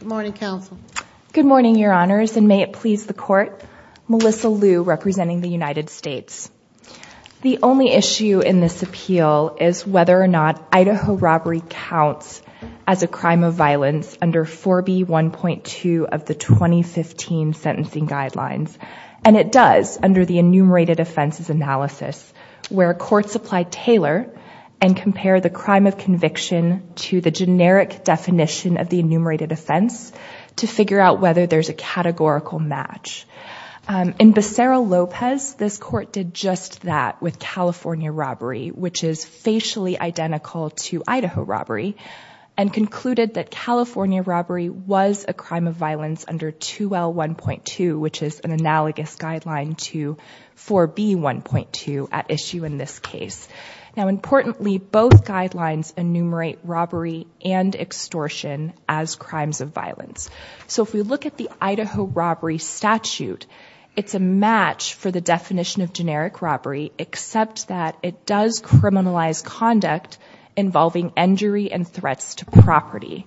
Good morning, Counsel. Good morning, Your Honors, and may it please the Court. Melissa Liu, representing the United States. The only issue in this appeal is whether or not Idaho robbery counts as a crime of violence under 4B 1.2 of the 2015 sentencing guidelines, and it does under the enumerated offenses analysis where courts apply Taylor and compare the crime of conviction to the generic definition of the enumerated offense to figure out whether there's a categorical match. In Becerra-Lopez, this court did just that with California robbery, which is facially identical to Idaho robbery, and concluded that California robbery was a crime of violence under 2L 1.2, which is an analogous guideline to 4B 1.2 at issue in this case. Now importantly, both guidelines enumerate robbery and extortion as crimes of violence. So if we look at the Idaho robbery statute, it's a match for the definition of generic robbery except that it does criminalize conduct involving injury and threats to property.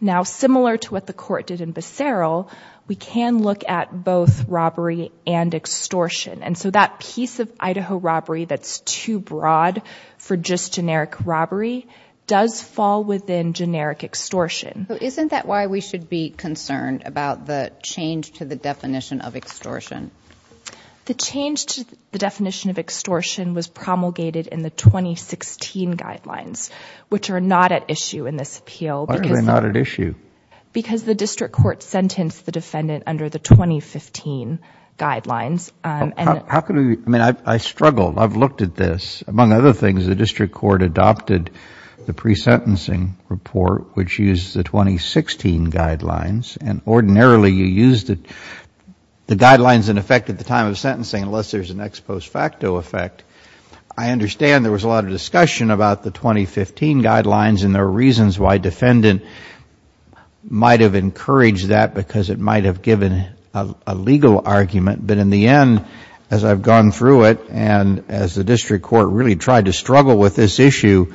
Now similar to what the court did in Becerra-Lopez, we can look at both robbery and extortion, and so that piece of Idaho robbery that's too broad for just generic robbery does fall within generic extortion. So isn't that why we should be concerned about the change to the definition of extortion? The change to the definition of extortion was promulgated in the 2016 guidelines, which are not at issue in this appeal. Why are they not at issue? Because the district court sentenced the defendant under the 2015 guidelines. I mean, I struggled. I've looked at this. Among other things, the district court adopted the pre-sentencing report, which used the 2016 guidelines, and ordinarily you use the guidelines in effect at the time of sentencing unless there's an ex post facto effect. I understand there was a lot of discussion about the 2015 guidelines, and there are reasons why a defendant might have encouraged that because it might have given a legal argument, but in the end, as I've gone through it, and as the district court really tried to struggle with this issue,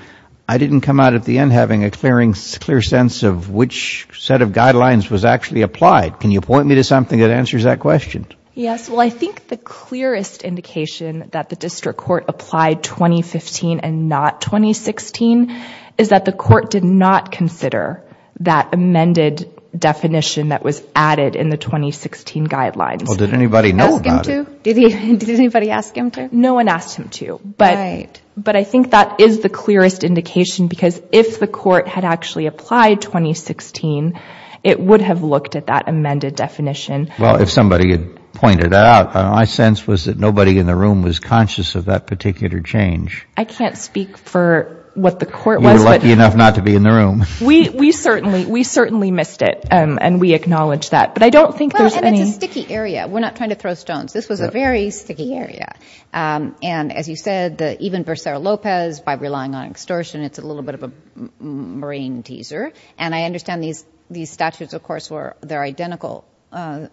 I didn't come out at the end having a clear sense of which set of guidelines was actually applied. Can you point me to something that answers that question? Yes, well, I think the clearest indication that the district court applied 2015 and not 2016 is that the court did not consider that amended definition that was added in the 2016 guidelines. Well, did anybody know about it? Did anybody ask him to? No one asked him to, but I think that is the clearest indication because if the court had actually applied 2016, it would have looked at that amended definition. Well, if somebody had pointed it out, my sense was that nobody in the room was conscious of that particular change. I can't speak for what the court was. You were lucky enough not to be in the room. We certainly missed it, and we acknowledge that, but I don't think there's any... Well, and it's a sticky area. We're not trying to throw stones. This was a very sticky area, and as you said, even Vercero Lopez, by relying on extortion, it's a little bit of a brain teaser, and I understand these statutes, of course, they're identical. They're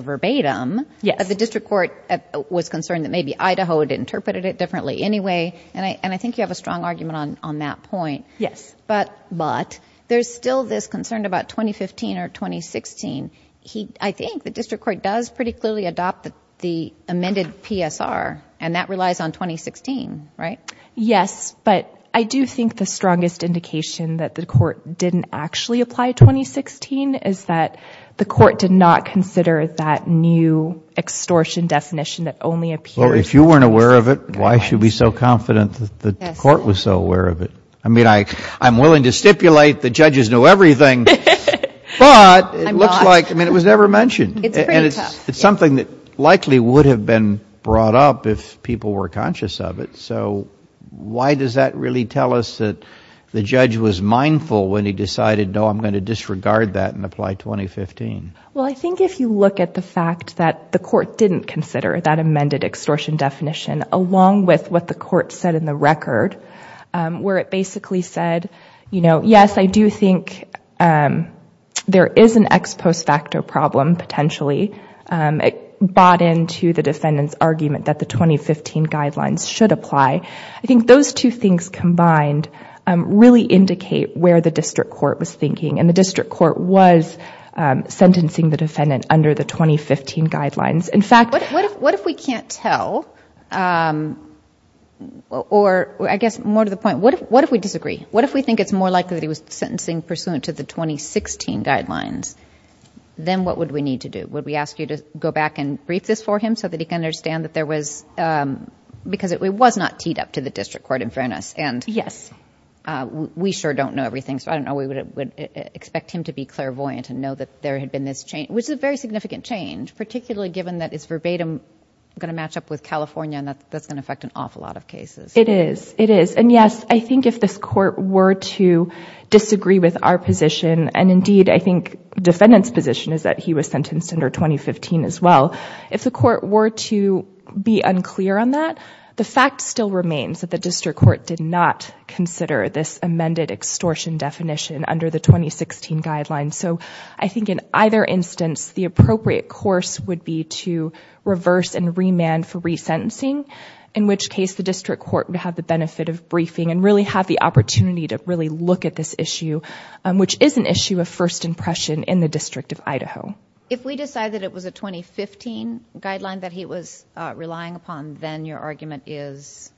verbatim. Yes. But the district court was concerned that maybe Idaho had interpreted it differently anyway, and I think you have a strong argument on that point. Yes. But there's still this concern about 2015 or 2016. I think the district court does pretty clearly adopt the amended PSR, and that relies on 2016, right? Yes, but I do think the strongest indication that the court didn't actually apply 2016 is that the court did not consider that new extortion definition that only appears... Well, if you weren't aware of it, why should we be so confident that the court was so aware of it? I mean, I'm willing to stipulate the judges know everything, but it looks like... I mean, it was never mentioned. It's something that likely would have been brought up if people were conscious of it, so why does that really tell us that the judge was mindful when he decided, no, I'm going to disregard that and apply 2015? Well, I think if you look at the fact that the court didn't consider that amended extortion definition, along with what the court said in the record, where it basically said, you know, yes, I do think there is an ex post facto problem potentially. It bought into the defendant's argument that the 2015 guidelines should apply. I think those two things combined really indicate where the district court was thinking, and the district court was sentencing the defendant under the 2015 guidelines. In fact... What if we can't tell, or I guess more to the point, what if we disagree? What if we think it's more likely that he was sentencing pursuant to the 2016 guidelines? Then what would we need to do? Would we ask you to go back and brief this for him so that he can understand that there was... Because it was not teed up to the district court, in fairness, and we sure don't know everything, so I don't know. We would expect him to be clairvoyant and know that there had been this change, which is a very significant change, particularly given that it's verbatim going to match up with And yes, I think if this court were to disagree with our position, and indeed I think defendant's position is that he was sentenced under 2015 as well, if the court were to be unclear on that, the fact still remains that the district court did not consider this amended extortion definition under the 2016 guidelines. So I think in either instance, the appropriate course would be to reverse and remand for resentencing, in which case the district court would have the benefit of briefing and really have the opportunity to really look at this issue, which is an issue of first impression in the District of Idaho. If we decide that it was a 2015 guideline that he was relying upon, then your argument is?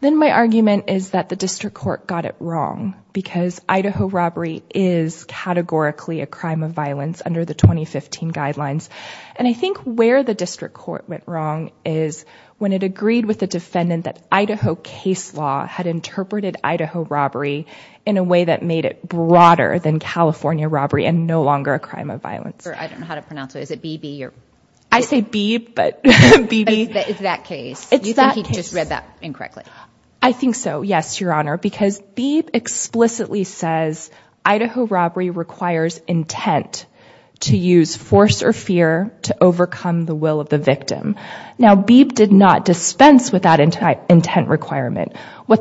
Then my argument is that the district court got it wrong, because Idaho robbery is categorically a crime of violence under the 2015 guidelines. And I think where the district court went wrong is when it agreed with the district court that the police law had interpreted Idaho robbery in a way that made it broader than California robbery and no longer a crime of violence. I don't know how to pronounce it. Is it Beebe? I say Beebe, but Beebe... It's that case. You think he just read that incorrectly? I think so, yes, Your Honor, because Beebe explicitly says Idaho robbery requires intent to use force or fear to overcome the will of the victim. Now Beebe did not What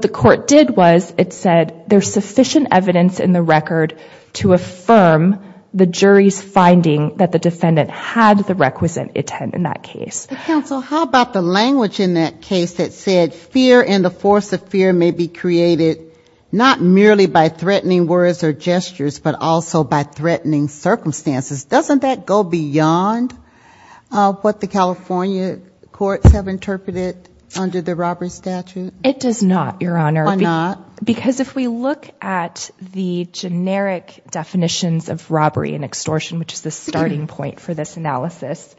the court did was it said there's sufficient evidence in the record to affirm the jury's finding that the defendant had the requisite intent in that case. But counsel, how about the language in that case that said fear and the force of fear may be created not merely by threatening words or gestures, but also by threatening circumstances. Doesn't that go beyond what the California courts have interpreted under the robbery statute? It does not, Your Honor. Why not? Because if we look at the generic definitions of robbery and extortion, which is the starting point for this analysis,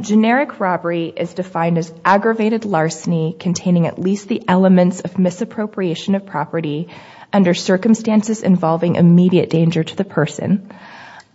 generic robbery is defined as aggravated larceny containing at least the elements of misappropriation of property under circumstances involving immediate danger to the person.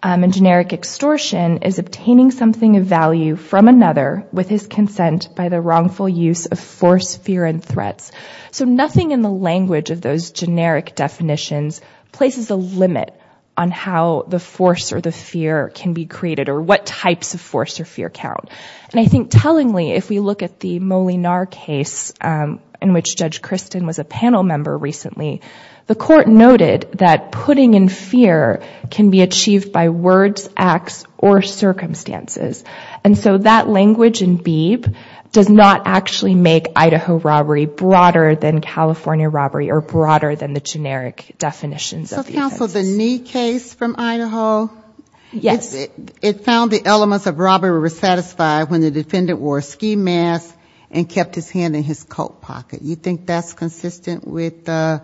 And generic extortion is obtaining something of value from another with his consent by the wrongful use of force, fear, and threats. So nothing in the language of those generic definitions places a limit on how the force or the fear can be created or what types of force or fear count. And I think tellingly, if we look at the Molinear case in which Judge Christin was a panel member recently, the court noted that putting in fear can be achieved by words, acts, or circumstances. And so that language in Beeb does not actually make Idaho robbery broader than California robbery or broader than the generic definitions of the offense. So counsel, the Knee case from Idaho, it found the elements of robbery were satisfied when the defendant wore a ski mask and kept his hand in his coat pocket. You think that's consistent with the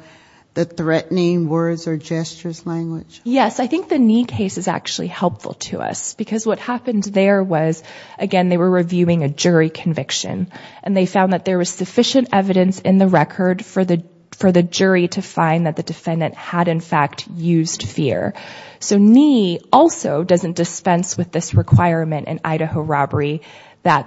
threatening words or gestures language? Yes. I think the Knee case is actually helpful to us. Because what happened there was, again, they were reviewing a jury conviction. And they found that there was sufficient evidence in the record for the jury to find that the defendant wore a ski mask and kept his hand in his coat pocket. Now,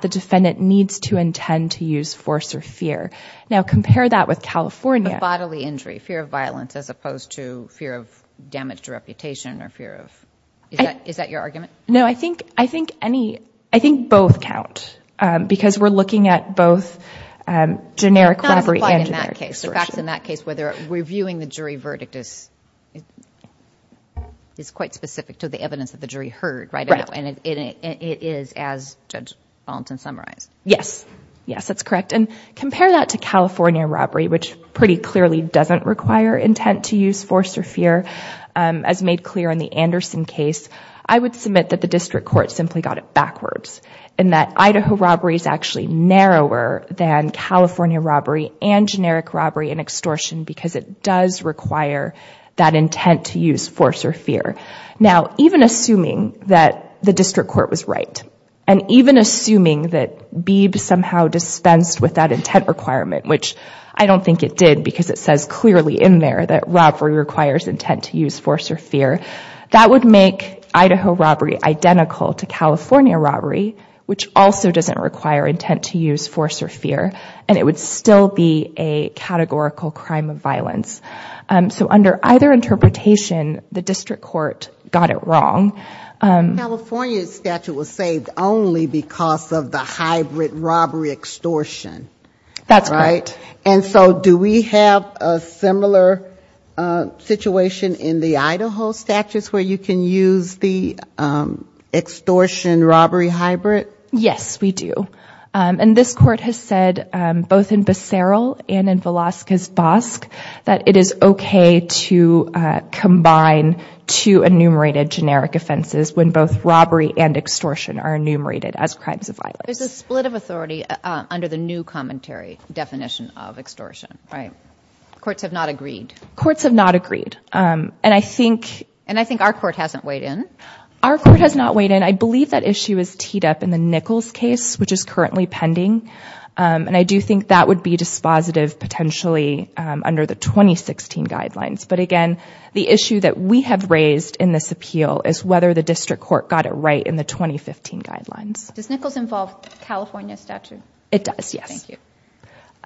compare that with California. A bodily injury, fear of violence as opposed to fear of damage to reputation or fear of... Is that your argument? No. I think both count. Because we're looking at both generic robbery and And I'm just curious in that case whether reviewing the jury verdict is quite specific to the evidence that the jury heard, right? And it is, as Judge Fulton summarized. Yes. Yes, that's correct. And compare that to California robbery, which pretty much does require extortion because it does require that intent to use force or fear. Now, even assuming that the district court was right, and even assuming that Beebe somehow dispensed with that intent requirement, which I don't think it did because it says clearly in there that robbery requires intent to use force or fear, that would make Idaho robbery identical to California crime of violence. So under either interpretation, the district court got it wrong. California's statute was saved only because of the hybrid robbery extortion. That's correct. And so do we have a similar situation in the Idaho statutes where you can use the extortion robbery hybrid? Yes, we do. And this court has said both in Becerral and in Velazquez Bosque that it is okay to combine two enumerated generic offenses when both robbery and extortion are enumerated as crimes of violence. There's a split of authority under the new commentary definition of extortion, right? Courts have not agreed. Courts have not agreed. And I think our court hasn't weighed in. Our court has not weighed in. I believe that issue is teed up in the Nichols case, which is currently pending. And I do think that would be dispositive potentially under the 2016 guidelines. But again, the issue that we have raised in this appeal is whether the district court got it right in the 2015 guidelines. Does Nichols involve California statute? It does, yes.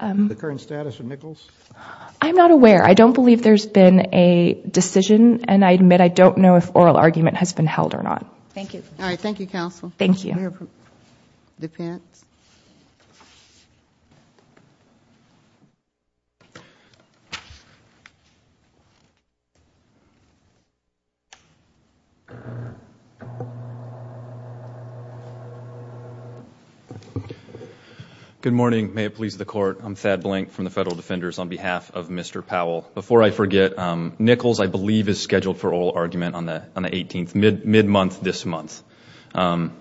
The current status of Nichols? I'm not aware. I don't believe there's been a decision. And I admit I don't know if oral argument has been held or not. Thank you. Good morning. May it please the Court. I'm Thad Blank from the Federal Defenders on behalf of Mr. Powell. Before I forget, Nichols, I believe, is scheduled for oral argument on the 18th, mid-month this month. But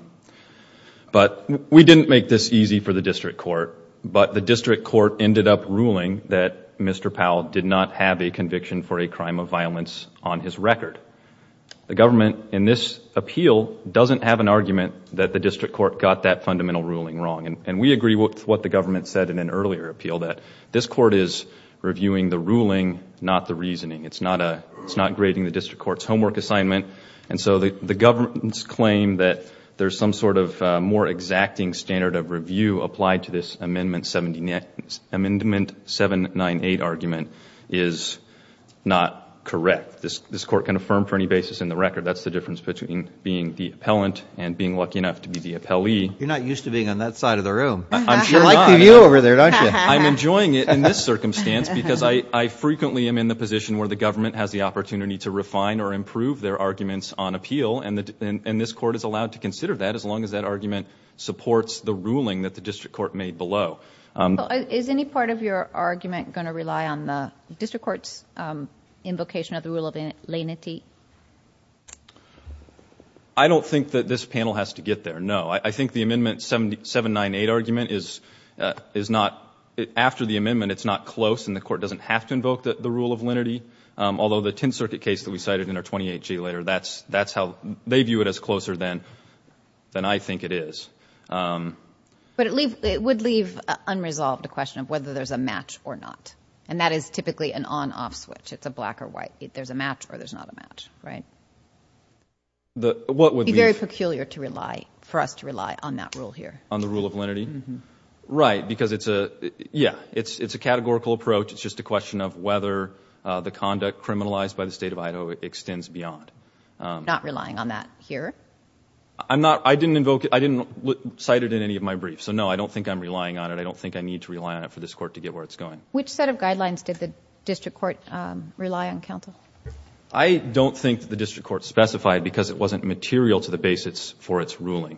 we didn't make this easy for the district court. But the district court ended up ruling that Mr. Powell did not have a conviction for a crime of violence on his record. The government, in this appeal, doesn't have an argument that the district court got that fundamental ruling wrong. And we agree with what the government said in an earlier appeal, that this court is reviewing the ruling, not the reasoning. It's not grading the district court's homework assignment. And so the government's claim that there's some sort of more exacting standard of review applied to this Amendment 798 argument is not correct. This Court can affirm for any basis in the record that's the difference between being the appellant and being lucky enough to be the appellee. You're not used to being on that side of the room. You like the view over there, don't you? I'm enjoying it in this circumstance because I frequently am in the position where the government has the opportunity to refine or improve their arguments on appeal. And this Court is allowed to consider that as long as that argument supports the ruling that the district court made below. Is any part of your argument going to rely on the district court's invocation of the rule of lenity? I don't think that this panel has to get there, no. I think the Amendment 798 argument is not, after the amendment, it's not close and the court doesn't have to invoke the rule of lenity. Although the Tenth Circuit case that we cited in our 28G later, that's how they view it as closer than I think it is. But it would leave unresolved the question of whether there's a match or not. And that is typically an on-off switch, it's a black or white, there's a match or there's not a match, right? It would be very peculiar for us to rely on that rule here. On the rule of lenity? Right, because it's a categorical approach, it's just a question of whether the conduct criminalized by the State of Idaho extends beyond. Not relying on that here? I didn't invoke it, I didn't cite it in any of my briefs, so no, I don't think I'm relying on it, I don't think I need to rely on it for this court to get where it's going. Which set of guidelines did the district court rely on, counsel? I don't think the district court specified because it wasn't material to the basis for its ruling.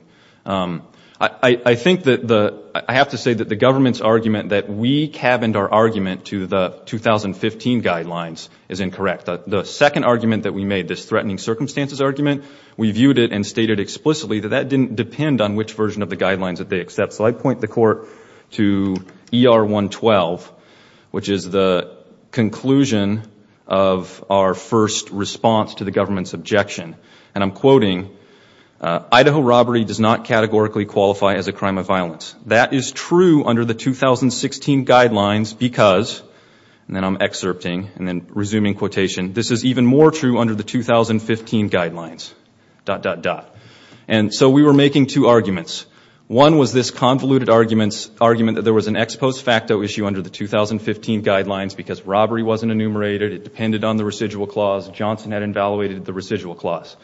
I think that the, I have to say that the government's argument that we cabined our argument to the 2015 guidelines is incorrect. The second argument that we made, this threatening circumstances argument, we viewed it and stated explicitly that that didn't depend on which version of the guidelines that they accept. So I point the court to ER 112, which is the conclusion of our first response to the government's objection. And I'm quoting, Idaho robbery does not categorically qualify as a crime of violence. That is true under the 2016 guidelines because, and then I'm excerpting, and then resuming quotation, this is even more true under the 2015 guidelines, dot, dot, dot. And so we were making two arguments. One was this convoluted argument that there was an ex post facto issue under the 2015 guidelines because robbery wasn't enumerated, it depended on the residual clause, Johnson had evaluated the residual clause.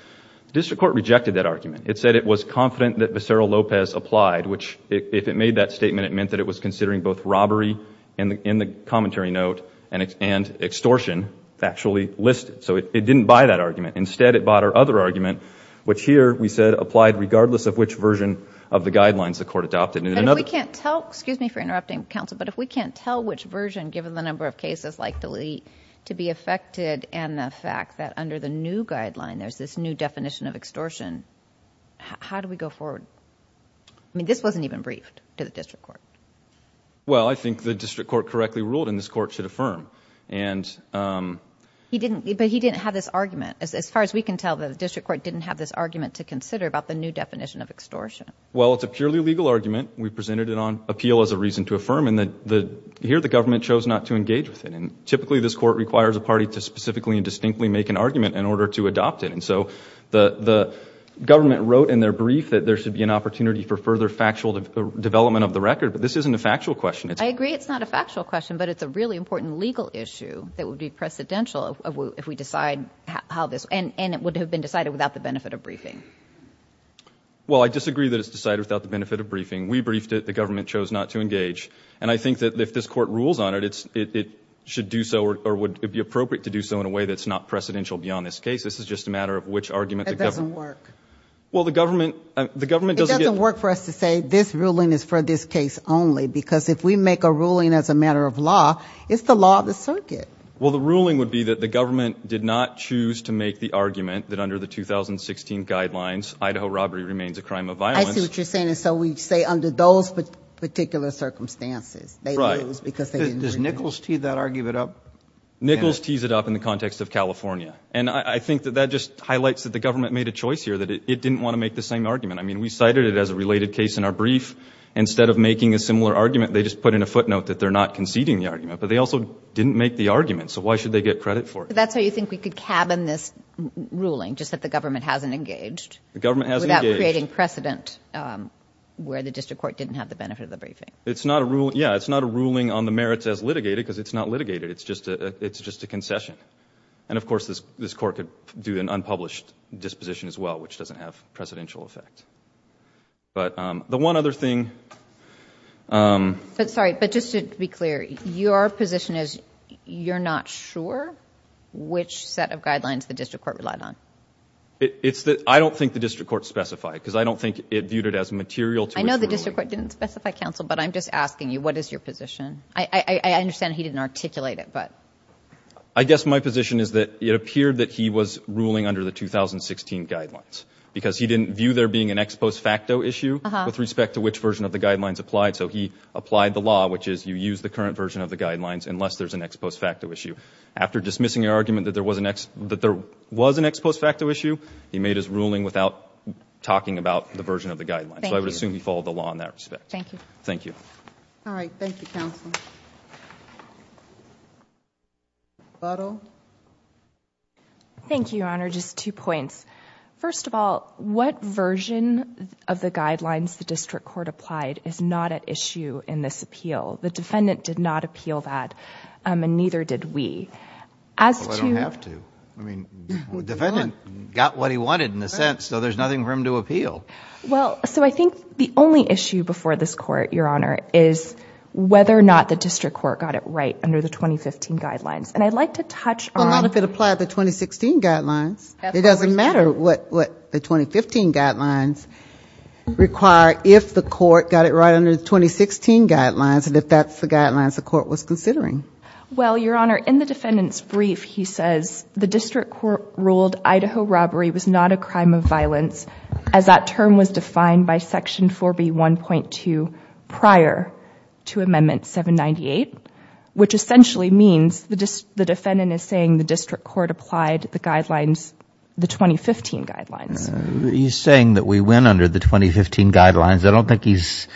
The district court rejected that argument. It said it was confident that Visceral Lopez applied, which, if it made that statement, it meant that it was considering both robbery in the commentary note and extortion factually listed. So it didn't buy that argument. Instead, it bought our other argument, which here we said applied regardless of which version of the guidelines the court adopted. And in another. So if we can't tell, excuse me for interrupting counsel, but if we can't tell which version, given the number of cases like delete, to be affected and the fact that under the new guideline there's this new definition of extortion, how do we go forward? I mean, this wasn't even briefed to the district court. Well, I think the district court correctly ruled in this court should affirm. And he didn't, but he didn't have this argument. As far as we can tell, the district court didn't have this argument to consider about the new definition of extortion. Well, it's a purely legal argument. We presented it on appeal as a reason to affirm and that the here the government chose not to engage with it. And typically this court requires a party to specifically and distinctly make an argument in order to adopt it. And so the government wrote in their brief that there should be an opportunity for further factual development of the record, but this isn't a factual question. I agree it's not a factual question, but it's a really important legal issue that would be precedential if we decide how this, and it would have been decided without the benefit of briefing. Well, I disagree that it's decided without the benefit of briefing. We briefed it. The government chose not to engage. And I think that if this court rules on it, it's it should do so or would it be appropriate to do so in a way that's not precedential beyond this case. This is just a matter of which argument doesn't work. Well, the government, the government doesn't work for us to say this ruling is for this case only, because if we make a ruling as a matter of law, it's the law of the circuit. Well, the ruling would be that the government did not choose to make the argument that under the 2016 guidelines, Idaho robbery remains a crime of violence. I see what you're saying. And so we say under those particular circumstances, they lose because they didn't make it. Does Nichols tease that argument up? Nichols tees it up in the context of California. And I think that that just highlights that the government made a choice here, that it didn't want to make the same argument. I mean, we cited it as a related case in our brief. Instead of making a similar argument, they just put in a footnote that they're not conceding the argument, but they also didn't make the argument. So why should they get credit for it? That's how you think we could cabin this ruling, just that the government hasn't engaged. The government has creating precedent where the district court didn't have the benefit of the briefing. It's not a rule. Yeah, it's not a ruling on the merits as litigated because it's not litigated. It's just a it's just a concession. And of course, this this court could do an unpublished disposition as well, which doesn't have presidential effect. But the one other thing. But sorry, but just to be clear, your position is you're not sure which set of guidelines the district court relied on. It's that I don't think the district court specified because I don't think it viewed it as material. I know the district court didn't specify counsel, but I'm just asking you, what is your position? I understand he didn't articulate it, but I guess my position is that it appeared that he was ruling under the 2016 guidelines because he didn't view there being an ex post facto issue with respect to which version of the guidelines applied. So he applied the law, which is you use the current version of the guidelines unless there's an ex post facto issue. After dismissing your argument that there was an that there was an ex post facto issue, he made his ruling without talking about the version of the guidelines. I would assume you follow the law in that respect. Thank you. Thank you. All right. Thank you, counsel. Thank you, Your Honor. Just two points. First of all, what version of the guidelines the district court applied is not at issue in this appeal. The defendant did not appeal that. And neither did we. As you have to. I mean, the defendant got what he wanted in a sense. So there's nothing for him to appeal. Well, so I think the only issue before this court, Your Honor, is whether or not the district court got it right under the 2015 guidelines. And I'd like to touch on how to apply the 2016 guidelines. It doesn't matter what the 2015 guidelines require. If the court got it right under the 2016 guidelines and if that's the guidelines the court was considering. Well, Your Honor, in the defendant's brief, he says the district court ruled Idaho robbery was not a crime of violence. As that term was defined by Section 4B 1.2 prior to Amendment 798, which essentially means the defendant is saying the district court applied the guidelines, the 2015 guidelines. He's saying that we went under the 2015 guidelines. I don't think he's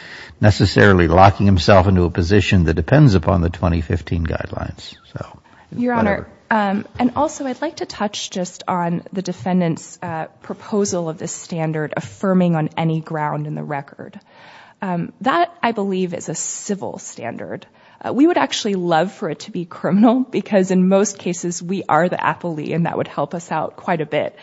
necessarily locking himself into a position that depends upon the 2015 guidelines. Your Honor, and also I'd like to touch just on the defendant's proposal of this standard affirming on any ground in the record. That, I believe, is a civil standard. We would actually love for it to be criminal because in most cases we are the appellee and that would help us out quite a bit.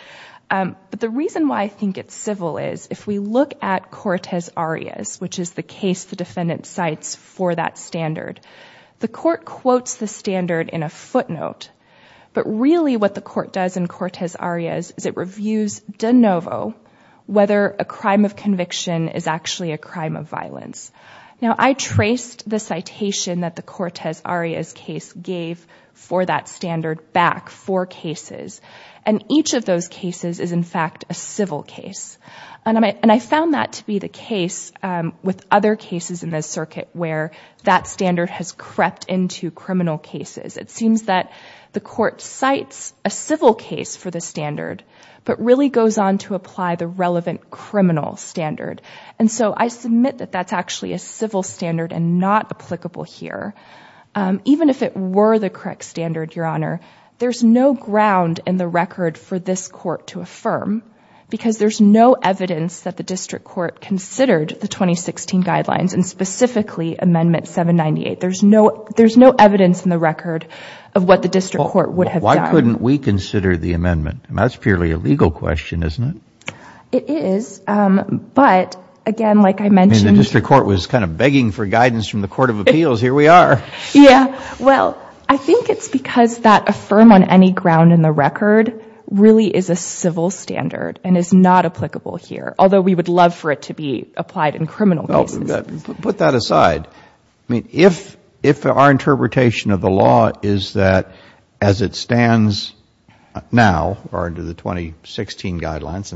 But the reason why I think it's civil is if we look at Cortez Arias, which is the case the defendant cites for that standard, the court quotes the standard in a footnote, but really what the court does in Cortez Arias is it reviews de novo whether a crime of conviction is actually a crime of violence. Now, I traced the citation that the Cortez Arias case gave for that standard back four cases and each of those cases is, in fact, a civil case. And I found that to be the case with other cases in this circuit where that standard has crept into criminal cases. It seems that the court cites a civil case for the standard but really goes on to apply the relevant criminal standard. And so I submit that that's actually a civil standard and not applicable here. Even if it were the correct standard, Your Honor, there's no ground in the record for this court to affirm because there's no evidence that the district court considered the 2016 guidelines and specifically Amendment 798. There's no evidence in the record of what the district court would have done. Well, why couldn't we consider the amendment? That's purely a legal question, isn't it? It is, but again, like I mentioned— I mean, the district court was kind of begging for guidance from the Court of Appeals. Here we are. Yeah. Well, I think it's because that affirm on any ground in the record really is a civil standard and is not applicable here, although we would love for it to be applied in criminal cases. Put that aside. I mean, if our interpretation of the law is that as it stands now or under the 2016 guidelines—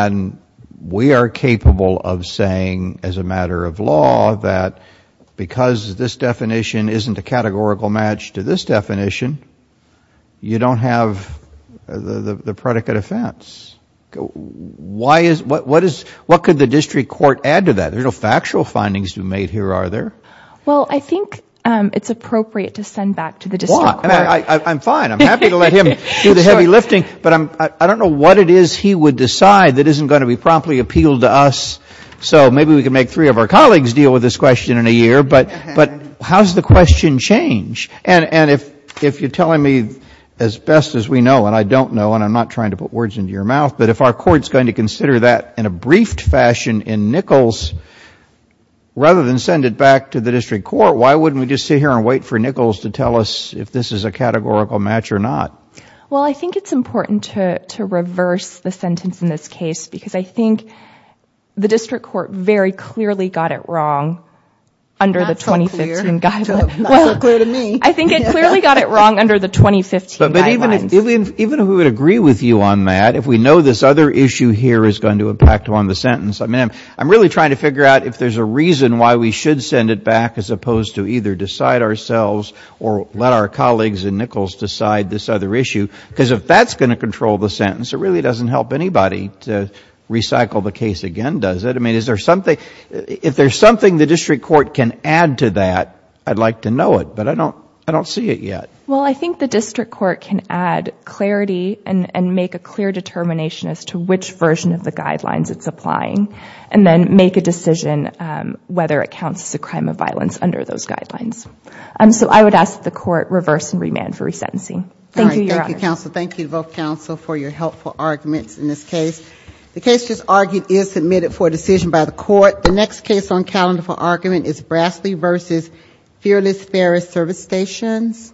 And we are capable of saying as a matter of law that because this definition isn't a categorical match to this definition, you don't have the predicate offense. What could the district court add to that? There's no factual findings to be made here, are there? Well, I think it's appropriate to send back to the district court. I'm fine. I'm happy to let him do the heavy lifting, but I don't know what it is he would decide that isn't going to be promptly appealed to us. So maybe we can make three of our colleagues deal with this question in a year, but how does the question change? And if you're telling me as best as we know, and I don't know, and I'm not trying to put words into your mouth, but if our court's going to consider that in a briefed fashion in Nichols, rather than send it back to the district court, why wouldn't we just sit here and wait for Nichols to tell us if this is a categorical match or not? Well, I think it's important to reverse the sentence in this case, because I think the district court very clearly got it wrong under the 2015 guidelines. Not so clear to me. I think it clearly got it wrong under the 2015 guidelines. But even if we would agree with you on that, if we know this other issue here is going to impact on the sentence, I'm really trying to figure out if there's a reason why we should send it back as opposed to either decide ourselves or let our colleagues in Nichols decide this other issue. Because if that's going to control the sentence, it really doesn't help anybody to recycle the case again, does it? I mean, if there's something the district court can add to that, I'd like to know it, but I don't see it yet. Well, I think the district court can add clarity and make a clear determination as to which version of the guidelines it's applying, and then make a decision whether it counts as a crime of violence under those guidelines. So I would ask that the court reverse and remand for resentencing. Thank you, Your Honor. Thank you, counsel. Thank you to both counsel for your helpful arguments in this case. The case just argued is submitted for decision by the court. The next case on calendar for argument is Brasley v. Fearless Ferris Service Stations.